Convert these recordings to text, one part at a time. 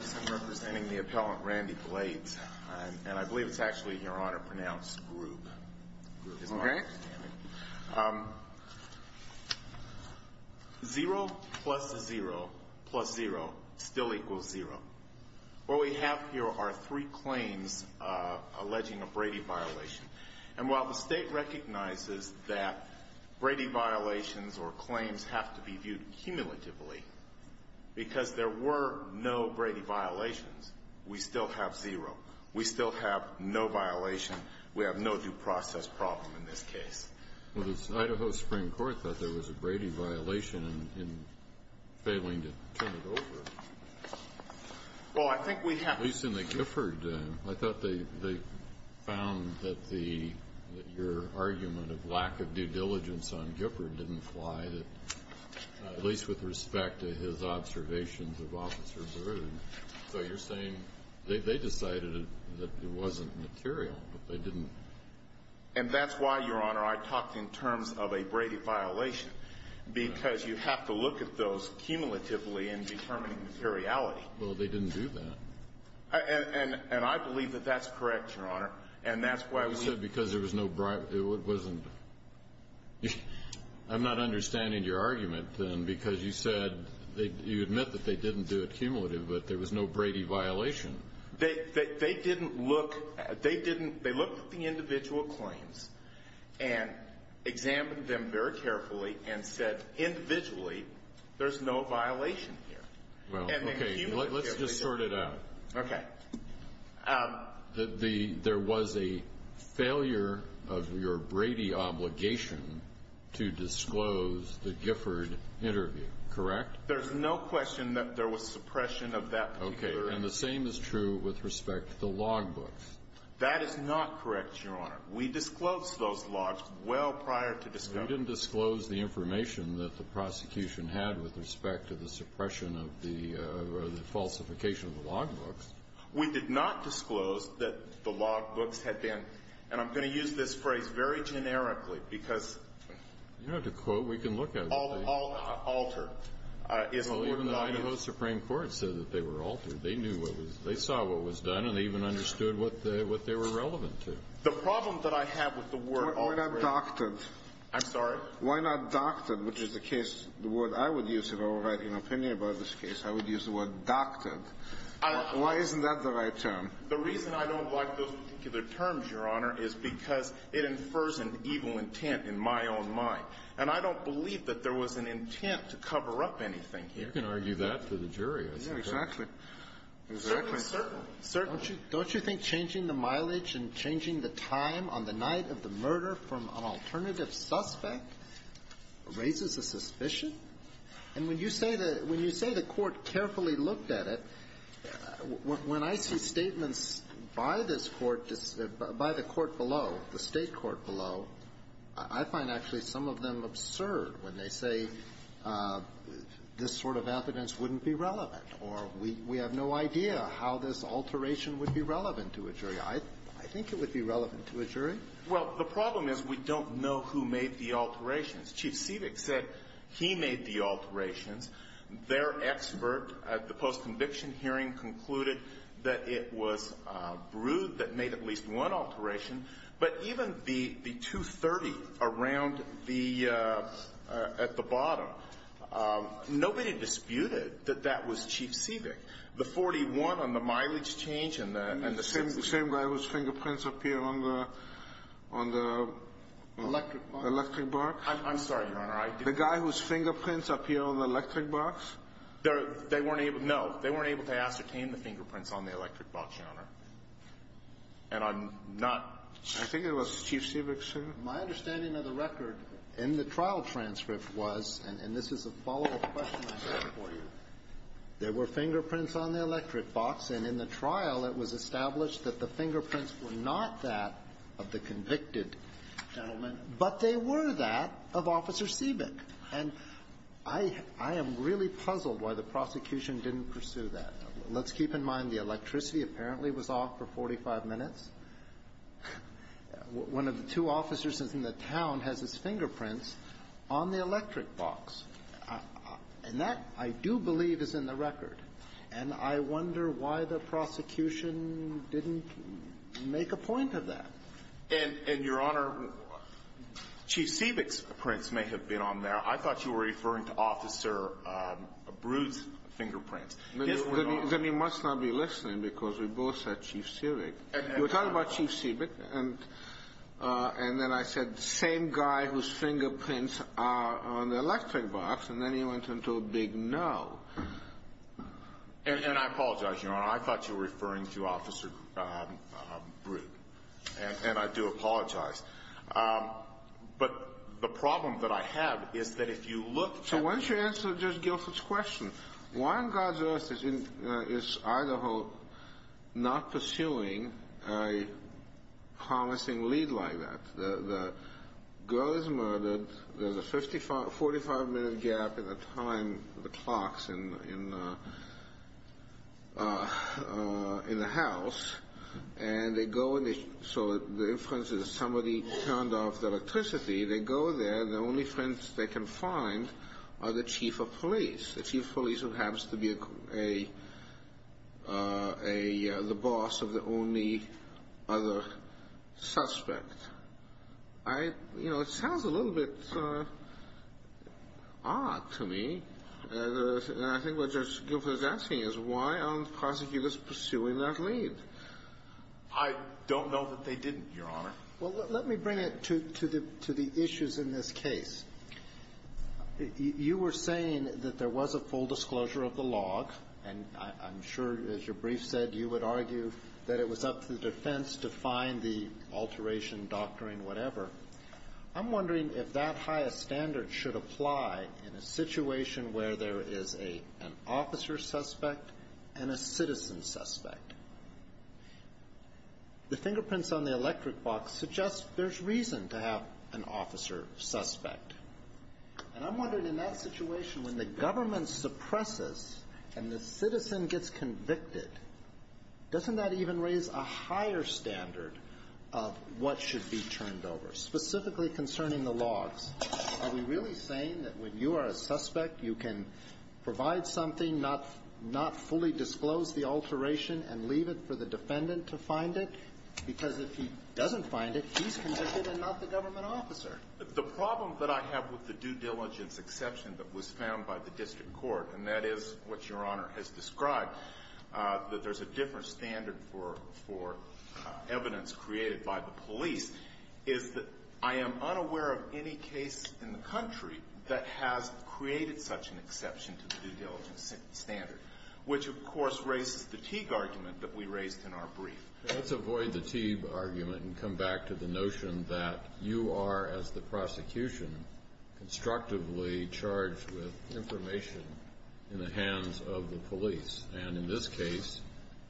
I'm representing the appellant Randy Blades, and I believe it's actually in your honor to pronounce Grube. Grube. Isn't that right? Zero plus zero plus zero still equals zero. What we have here are three claims alleging a Brady violation. And while the state recognizes that Brady violations or claims have to be viewed cumulatively, because there were no Brady violations, we still have zero. We still have no violation. We have no due process problem in this case. Well, the Idaho Supreme Court thought there was a Brady violation in failing to turn it over. Well, I think we have. At least in the Gifford, I thought they found that your argument of lack of due diligence on Gifford didn't apply, at least with respect to his observations of Officer Baroud. So you're saying they decided that it wasn't material, but they didn't? And that's why, Your Honor, I talked in terms of a Brady violation, because you have to look at those cumulatively in determining materiality. Well, they didn't do that. And I believe that that's correct, Your Honor. And that's why we said because there was no – it wasn't. I'm not understanding your argument, then, because you said – you admit that they didn't do it cumulatively, but there was no Brady violation. They didn't look – they didn't – they looked at the individual claims and examined them very carefully and said, individually, there's no violation here. Well, okay, let's just sort it out. Okay. There was a failure of your Brady obligation to disclose the Gifford interview, correct? There's no question that there was suppression of that particular – Okay. And the same is true with respect to the logbooks. That is not correct, Your Honor. We disclosed those logs well prior to – You didn't disclose the information that the prosecution had with respect to the suppression of the – or the falsification of the logbooks. We did not disclose that the logbooks had been – and I'm going to use this phrase very generically because – You don't have to quote. We can look at it. Altered is the word that I use. Well, even the Idaho Supreme Court said that they were altered. They knew what was – they saw what was done, and they even understood what they were relevant to. The problem that I have with the word – Why not doctored? I'm sorry? Why not doctored, which is the case – the word I would use if I were writing an opinion about this case. I would use the word doctored. Why isn't that the right term? The reason I don't like those particular terms, Your Honor, is because it infers an evil intent in my own mind. And I don't believe that there was an intent to cover up anything here. You can argue that to the jury, I suppose. Yeah, exactly. Certainly, certainly. Don't you think changing the mileage and changing the time on the night of the murder from an alternative suspect raises a suspicion? And when you say the – when you say the Court carefully looked at it, when I see statements by this Court – by the Court below, the State court below, I find actually some of them absurd when they say this sort of evidence wouldn't be relevant or we have no idea how this alteration would be relevant to a jury. I think it would be relevant to a jury. Well, the problem is we don't know who made the alterations. Chief Sivik said he made the alterations. Their expert at the post-conviction hearing concluded that it was Brewd that made at least one alteration. But even the 230 around the – at the bottom, nobody disputed that that was Chief Sivik. The 41 on the mileage change and the – The same guy whose fingerprints appear on the electric bar? I'm sorry, Your Honor. The guy whose fingerprints appear on the electric box? They weren't able – no. They weren't able to ascertain the fingerprints on the electric box, Your Honor. And I'm not – I think it was Chief Sivik, sir. My understanding of the record in the trial transcript was – and this is a follow-up question I have for you. There were fingerprints on the electric box, and in the trial it was established that the fingerprints were not that of the convicted gentleman. But they were that of Officer Sivik. And I am really puzzled why the prosecution didn't pursue that. Let's keep in mind the electricity apparently was off for 45 minutes. One of the two officers in the town has his fingerprints on the electric box. And that, I do believe, is in the record. And I wonder why the prosecution didn't make a point of that. And, Your Honor, Chief Sivik's prints may have been on there. I thought you were referring to Officer Brute's fingerprints. His were not. Then you must not be listening because we both said Chief Sivik. You were talking about Chief Sivik, and then I said the same guy whose fingerprints are on the electric box, and then he went into a big no. And I apologize, Your Honor. I thought you were referring to Officer Brute. And I do apologize. But the problem that I have is that if you look at the So why don't you answer Judge Guilford's question? Why on God's earth is Idaho not pursuing a promising lead like that? The girl is murdered. There's a 45-minute gap in the time of the clocks in the house. And they go, so the inference is somebody turned off the electricity. They go there. The only friends they can find are the chief of police, the chief of police who happens to be the boss of the only other suspect. You know, it sounds a little bit odd to me. And I think what Judge Guilford is asking is why aren't prosecutors pursuing that lead? I don't know that they didn't, Your Honor. Well, let me bring it to the issues in this case. You were saying that there was a full disclosure of the log, and I'm sure, as your brief said, you would argue that it was up to the defense to find the alteration, doctoring, whatever. I'm wondering if that highest standard should apply in a situation where there is an officer suspect and a citizen suspect. The fingerprints on the electric box suggest there's reason to have an officer suspect. And I'm wondering, in that situation, when the government suppresses and the citizen gets convicted, doesn't that even raise a higher standard of what should be turned over, specifically concerning the logs? Are we really saying that when you are a suspect, you can provide something, not fully disclose the alteration, and leave it for the defendant to find it? Because if he doesn't find it, he's convicted and not the government officer. The problem that I have with the due diligence exception that was found by the district court, and that is what your Honor has described, that there's a different standard for evidence created by the police, is that I am unaware of any case in the country that has created such an exception to the due diligence standard, which, of course, raises the Teague argument that we raised in our brief. Let's avoid the Teague argument and come back to the notion that you are, as the prosecution, constructively charged with information in the hands of the police. And in this case,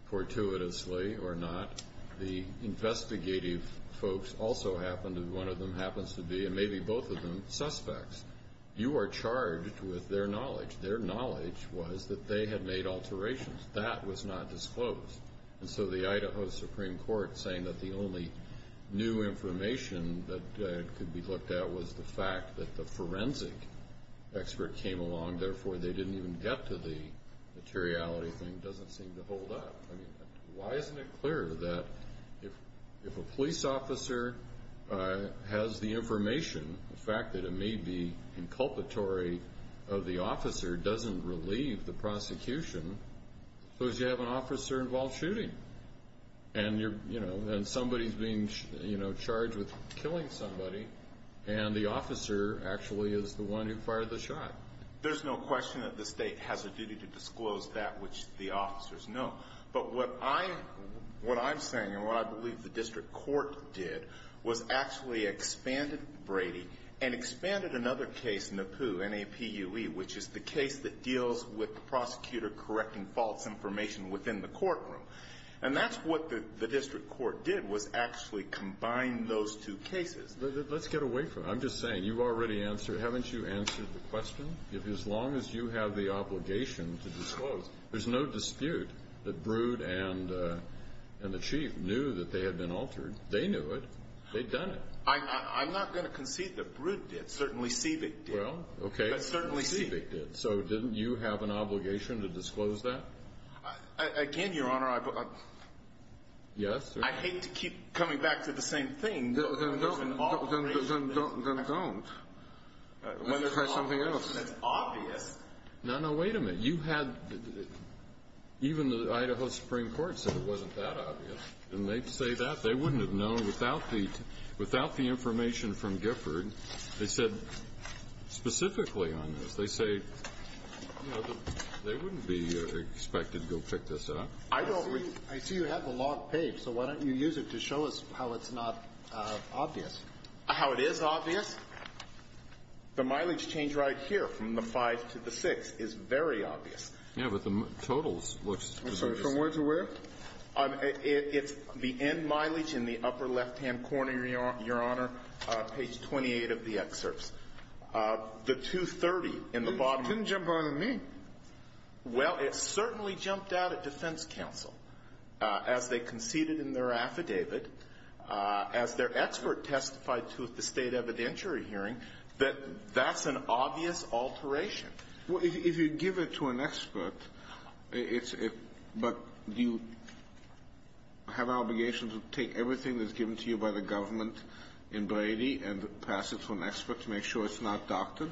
fortuitously or not, the investigative folks also happened, and one of them happens to be, and maybe both of them, suspects. You are charged with their knowledge. Their knowledge was that they had made alterations. That was not disclosed. And so the Idaho Supreme Court saying that the only new information that could be looked at was the fact that the forensic expert came along, therefore they didn't even get to the materiality thing doesn't seem to hold up. I mean, why isn't it clear that if a police officer has the information, the fact that it may be inculpatory of the officer doesn't relieve the prosecution, because you have an officer-involved shooting. And somebody is being charged with killing somebody, and the officer actually is the one who fired the shot. There's no question that the state has a duty to disclose that which the officers know. But what I'm saying, and what I believe the district court did, was actually expanded Brady and expanded another case, NAPUE, which is the case that deals with the prosecutor correcting false information within the courtroom. And that's what the district court did, was actually combine those two cases. Let's get away from it. I'm just saying, you've already answered. Haven't you answered the question? As long as you have the obligation to disclose, there's no dispute that Brood and the chief knew that they had been altered. They knew it. They'd done it. I'm not going to concede that Brood did. Certainly Seebeck did. Well, okay. But certainly Seebeck did. So didn't you have an obligation to disclose that? Again, Your Honor, I hate to keep coming back to the same thing. Then don't. Let's try something else. That's obvious. No, no, wait a minute. You had, even the Idaho Supreme Court said it wasn't that obvious. Didn't they say that? They wouldn't have known without the information from Gifford. They said specifically on this. They say, you know, they wouldn't be expected to go pick this up. I don't. I see you have the log page. So why don't you use it to show us how it's not obvious. How it is obvious? The mileage change right here from the 5 to the 6 is very obvious. Yeah, but the totals looks pretty obvious. From where to where? It's the end mileage in the upper left-hand corner, Your Honor. Page 28 of the excerpts. The 230 in the bottom. It didn't jump out at me. Well, it certainly jumped out at defense counsel. As they conceded in their affidavit, as their expert testified to at the State evidentiary hearing, that that's an obvious alteration. Well, if you give it to an expert, but do you have an obligation to take everything that's given to you by the government in Brady and pass it to an expert to make sure it's not doctored?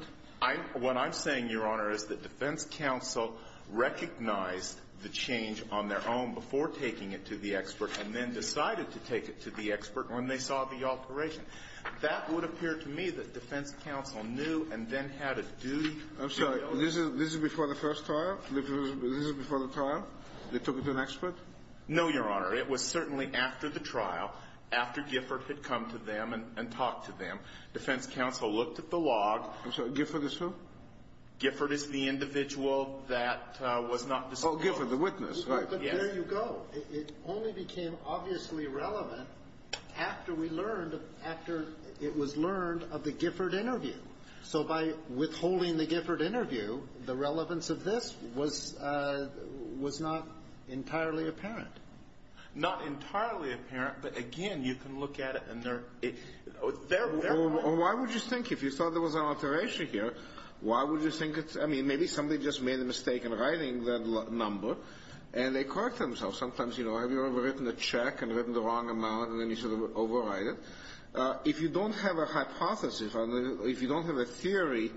What I'm saying, Your Honor, is that defense counsel recognized the change on their own before taking it to the expert and then decided to take it to the expert when they saw the alteration. That would appear to me that defense counsel knew and then had a duty to do. I'm sorry. This is before the first trial? This is before the trial? They took it to an expert? No, Your Honor. It was certainly after the trial, after Gifford had come to them and talked to them. Defense counsel looked at the log. I'm sorry. Gifford is who? Gifford is the individual that was not disclosed. Oh, Gifford, the witness, right. Yes. But there you go. It only became obviously relevant after we learned, after it was learned of the Gifford interview. So by withholding the Gifford interview, the relevance of this was not entirely apparent. Not entirely apparent, but, again, you can look at it and there are – Or why would you think, if you thought there was an alteration here, why would you think it's – I mean, maybe somebody just made a mistake in writing that number and they correct themselves. Sometimes, you know, have you ever written a check and written the wrong amount and then you sort of overwrite it? If you don't have a hypothesis, if you don't have a theory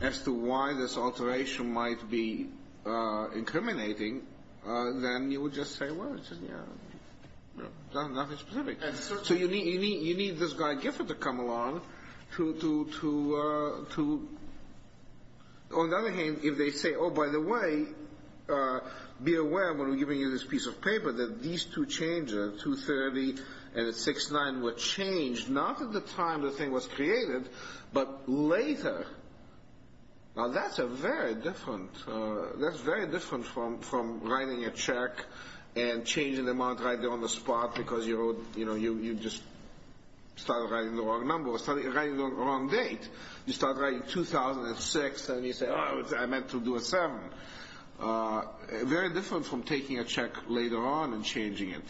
as to why this alteration might be incriminating, then you would just say, well, it's nothing specific. So you need this guy Gifford to come along to – On the other hand, if they say, oh, by the way, be aware when we're giving you this piece of paper that these two changes, 230 and 6-9, were changed not at the time the thing was created, but later. Now that's a very different – that's very different from writing a check and changing the amount right there on the spot because you wrote – you know, you just started writing the wrong number or started writing the wrong date. You start writing 2006 and you say, oh, I meant to do a 7. Very different from taking a check later on and changing it.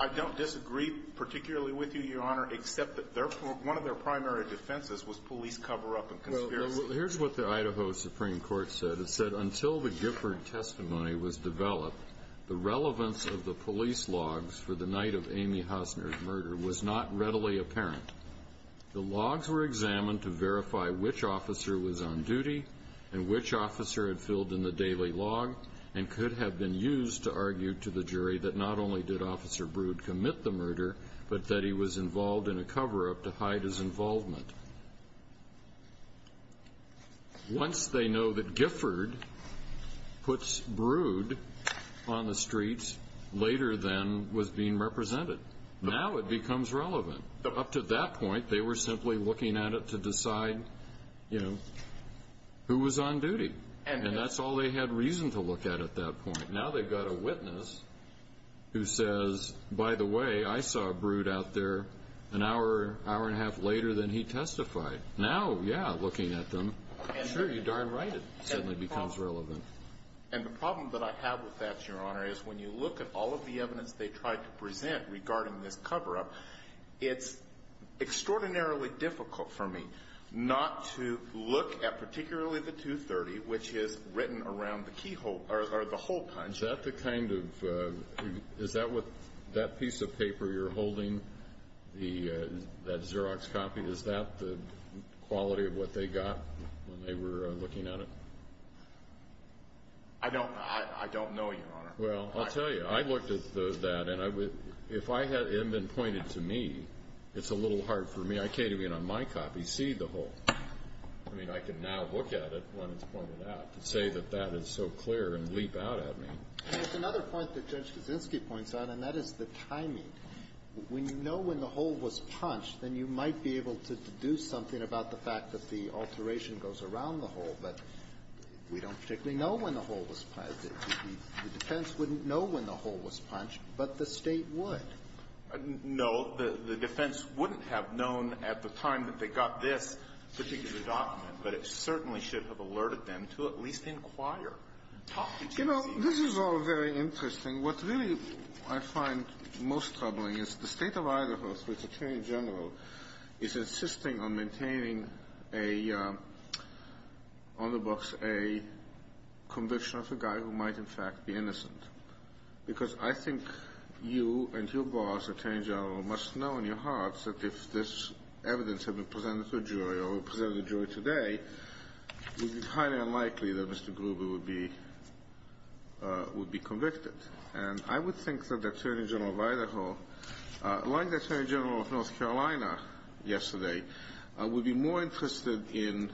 I don't disagree particularly with you, Your Honor, except that one of their primary defenses was police cover-up and conspiracy. Here's what the Idaho Supreme Court said. It said, until the Gifford testimony was developed, the relevance of the police logs for the night of Amy Hosner's murder was not readily apparent. The logs were examined to verify which officer was on duty and which officer had filled in the daily log and could have been used to argue to the jury that not only did Officer Brood commit the murder, but that he was involved in a cover-up to hide his involvement. Once they know that Gifford puts Brood on the streets later than was being represented, now it becomes relevant. Up to that point, they were simply looking at it to decide, you know, who was on duty. And that's all they had reason to look at at that point. Now they've got a witness who says, by the way, I saw Brood out there an hour, hour and a half later than he testified. Now, yeah, looking at them, sure, you're darn right it suddenly becomes relevant. And the problem that I have with that, Your Honor, is when you look at all of the evidence they tried to present regarding this cover-up, it's extraordinarily difficult for me not to look at particularly the 230, which is written around the keyhole or the hole punch. Is that the kind of – is that piece of paper you're holding, that Xerox copy, is that the quality of what they got when they were looking at it? Well, I'll tell you. I looked at that, and if it had been pointed to me, it's a little hard for me. I can't even on my copy see the hole. I mean, I can now look at it when it's pointed out to say that that is so clear and leap out at me. It's another point that Judge Kaczynski points out, and that is the timing. When you know when the hole was punched, then you might be able to deduce something about the fact that the alteration goes around the hole, but we don't particularly know when the hole was punched. The defense wouldn't know when the hole was punched, but the State would. No. The defense wouldn't have known at the time that they got this particular document, but it certainly should have alerted them to at least inquire. You know, this is all very interesting. What really I find most troubling is the State of Idaho, through its attorney general, is insisting on maintaining on the books a conviction of a guy who might, in fact, be innocent, because I think you and your boss, attorney general, must know in your hearts that if this evidence had been presented to a jury or presented to a jury today, it would be highly unlikely that Mr. Gruber would be convicted. And I would think that the attorney general of Idaho, like the attorney general of North Carolina yesterday, would be more interested in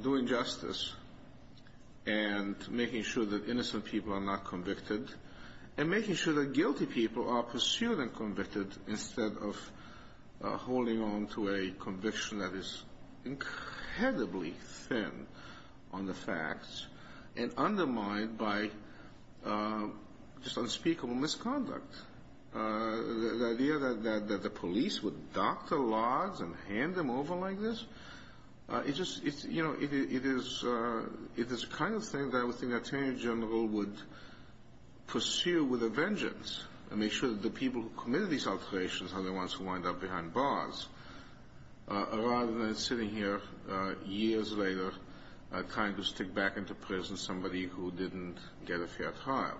doing justice and making sure that innocent people are not convicted and making sure that guilty people are pursued and convicted instead of holding on to a conviction that is incredibly thin on the facts and undermined by just unspeakable misconduct. The idea that the police would dock the laws and hand them over like this, it is the kind of thing that I would think an attorney general would pursue with a vengeance and make sure that the people who committed these alterations are the ones who wind up behind bars rather than sitting here years later trying to stick back into prison somebody who didn't get a fair trial.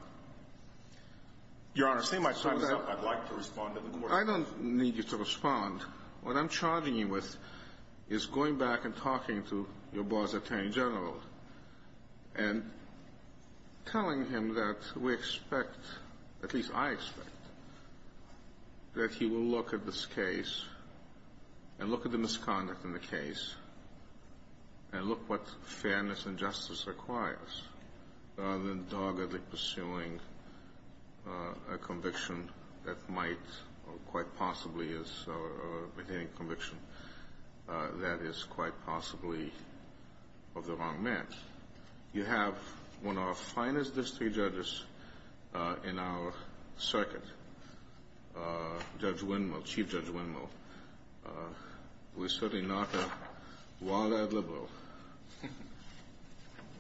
Your Honor, seeing my time is up, I'd like to respond to the question. I don't need you to respond. What I'm charging you with is going back and talking to your boss, attorney general, and telling him that we expect, at least I expect, that he will look at this case and look at the misconduct in the case and look what fairness and justice requires rather than doggedly pursuing a conviction that might, or quite possibly is, or maintaining a conviction that is quite possibly of the wrong man. You have one of our finest district judges in our circuit, Judge Windmill, Chief Judge Windmill, who is certainly not a wild-eyed liberal,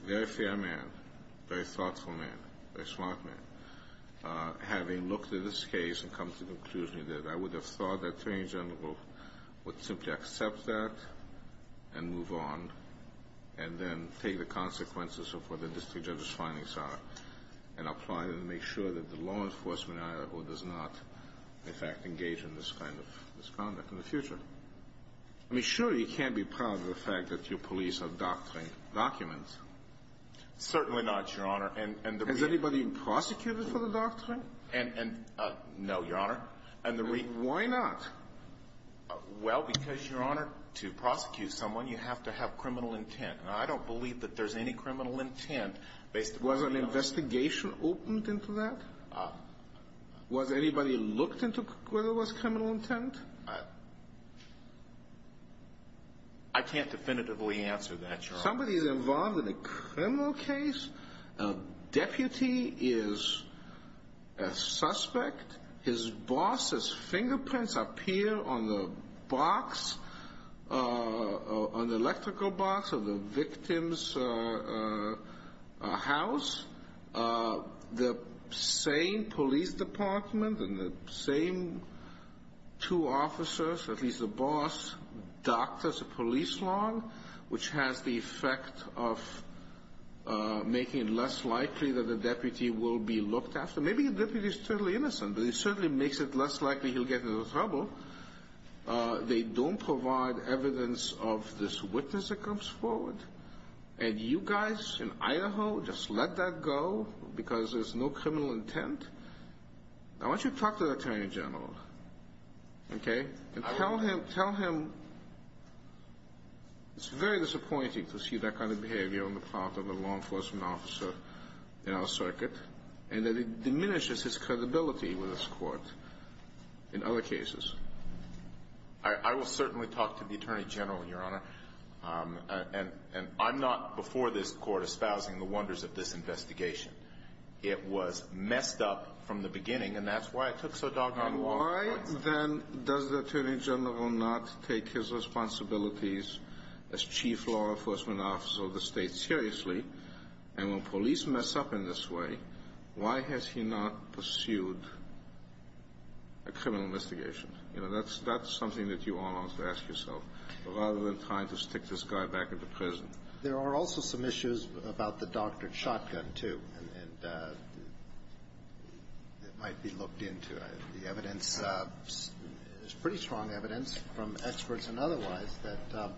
very fair man, very thoughtful man, very smart man, having looked at this case and come to the conclusion that I would have thought that an attorney general would simply accept that and move on and then take the consequences of what the district judge's findings are and apply them to make sure that the law enforcement does not, in fact, engage in this kind of misconduct in the future. I mean, surely you can't be proud of the fact that your police are docking documents. Certainly not, Your Honor. Has anybody been prosecuted for the doctrine? No, Your Honor. Why not? Well, because, Your Honor, to prosecute someone, you have to have criminal intent. And I don't believe that there's any criminal intent based upon the evidence. Was an investigation opened into that? Was anybody looked into whether there was criminal intent? I can't definitively answer that, Your Honor. Somebody is involved in a criminal case. A deputy is a suspect. His boss's fingerprints appear on the box, on the electrical box of the victim's house. The same police department and the same two officers, at least the boss, docked as a police log, which has the effect of making it less likely that a deputy will be looked after. Maybe the deputy is totally innocent, but it certainly makes it less likely he'll get into trouble. They don't provide evidence of this witness that comes forward. And you guys in Idaho just let that go because there's no criminal intent? Now, why don't you talk to the attorney general, okay? Tell him it's very disappointing to see that kind of behavior on the part of a law enforcement officer in our circuit and that it diminishes his credibility with this court in other cases. I will certainly talk to the attorney general, Your Honor. And I'm not before this court espousing the wonders of this investigation. It was messed up from the beginning, and that's why it took so long. And why, then, does the attorney general not take his responsibilities as chief law enforcement officer of the state seriously? And when police mess up in this way, why has he not pursued a criminal investigation? You know, that's something that you all ought to ask yourself rather than trying to stick this guy back into prison. There are also some issues about the doctored shotgun, too. And it might be looked into. The evidence is pretty strong evidence from experts and otherwise that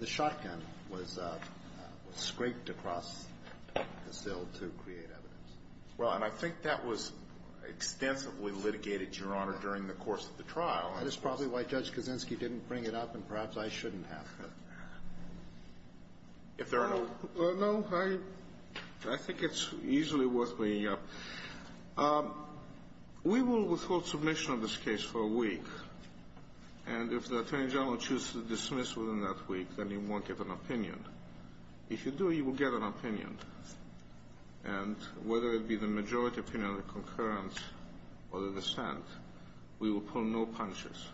the shotgun was scraped across the sill to create evidence. Well, and I think that was extensively litigated, Your Honor, during the course of the trial. That is probably why Judge Kaczynski didn't bring it up, and perhaps I shouldn't have. If there are no other questions. No. I think it's easily worth bringing up. We will withhold submission of this case for a week. And if the attorney general chooses to dismiss within that week, then he won't get an opinion. If you do, you will get an opinion. And whether it be the majority opinion or the concurrence or the dissent, we will pull no punches.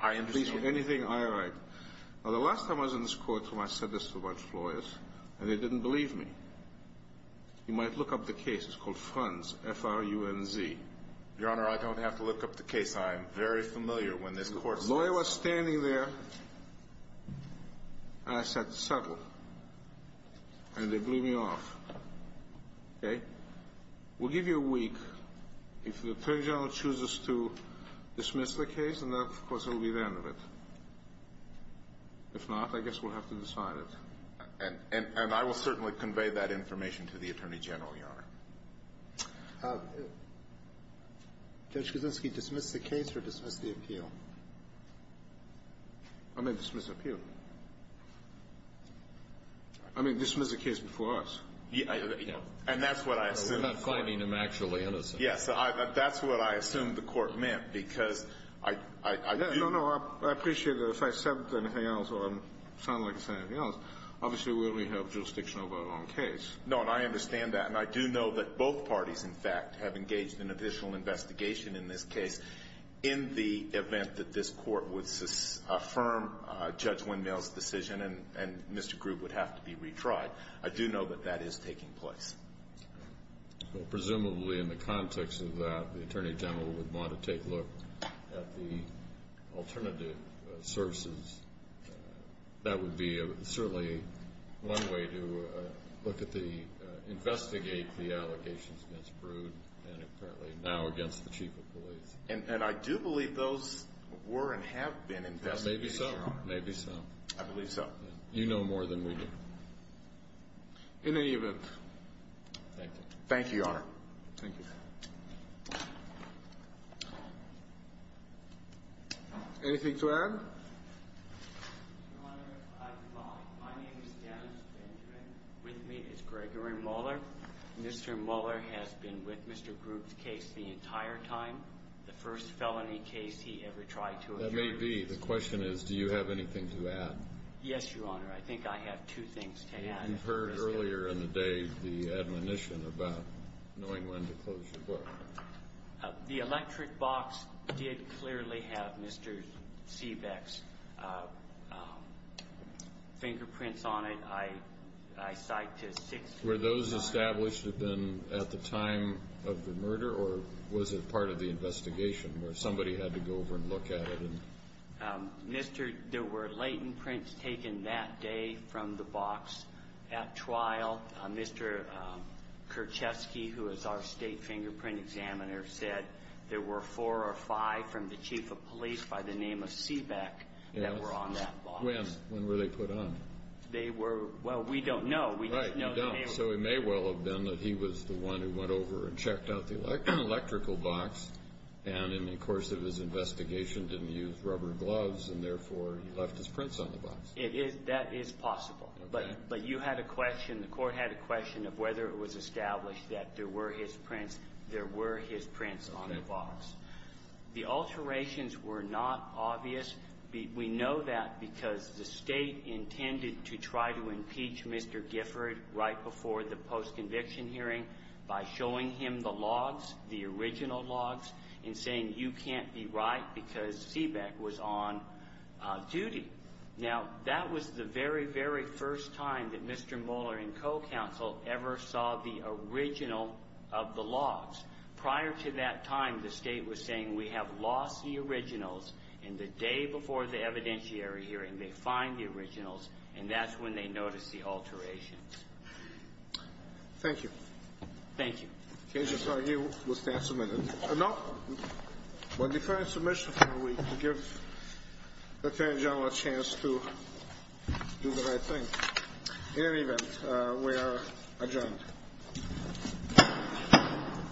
I understand. Please, anything I write. Now, the last time I was in this court is when I said this to a bunch of lawyers, and they didn't believe me. You might look up the case. It's called Franz, F-R-U-N-Z. Your Honor, I don't have to look up the case. I am very familiar when this court says that. The lawyer was standing there, and I said, settle. And they blew me off. Okay? We'll give you a week. If the attorney general chooses to dismiss the case, then, of course, it will be the end of it. If not, I guess we'll have to decide it. Judge Kuczynski, dismiss the case or dismiss the appeal? I may dismiss the appeal. I may dismiss the case before us. And that's what I assume. We're not finding him actually innocent. Yes. That's what I assume the court meant, because I do know that if I said anything else or I sound like I said anything else, obviously, we have jurisdiction over our own case. No, and I understand that. And I do know that both parties, in fact, have engaged in official investigation in this case in the event that this court would affirm Judge Windmill's decision and Mr. Groob would have to be retried. I do know that that is taking place. Well, presumably, in the context of that, the attorney general would want to take a look at the alternative sources. That would be certainly one way to investigate the allegations against Brood and apparently now against the chief of police. And I do believe those were and have been investigated, Your Honor. Maybe so. Maybe so. I believe so. You know more than we do. In any event. Thank you. Thank you, Your Honor. Thank you. Anything to add? Your Honor, I'm fine. My name is Dennis Benjamin. With me is Gregory Muller. Mr. Muller has been with Mr. Groob's case the entire time, the first felony case he ever tried to adjourn. That may be. The question is, do you have anything to add? Yes, Your Honor. I think I have two things to add. You heard earlier in the day the admonition about knowing when to close your book. The electric box did clearly have Mr. Seebeck's fingerprints on it. I cite to 625. Were those established at the time of the murder or was it part of the investigation where somebody had to go over and look at it? There were latent prints taken that day from the box at trial. Mr. Kerchesky, who is our state fingerprint examiner, said there were four or five from the chief of police by the name of Seebeck that were on that box. When were they put on? Well, we don't know. Right, you don't. So it may well have been that he was the one who went over and checked out the electrical box and in the course of his investigation didn't use rubber gloves and, therefore, he left his prints on the box. That is possible. Okay. But you had a question, the court had a question of whether it was established that there were his prints. There were his prints on the box. Okay. The alterations were not obvious. We know that because the state intended to try to impeach Mr. Gifford right before the post-conviction hearing by showing him the logs, the original logs, and saying you can't be right because Seebeck was on duty. Now, that was the very, very first time that Mr. Moeller and co-counsel ever saw the original of the logs. Prior to that time, the state was saying we have lost the originals and the day before the evidentiary hearing they find the originals and that's when they notice the alterations. Thank you. Thank you. Okay. Just argue we'll stand submitted. No. By deferring submission, we give the Attorney General a chance to do the right thing. In any event, we are adjourned.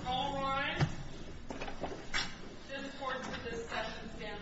All rise. This court's discussion stands adjourned.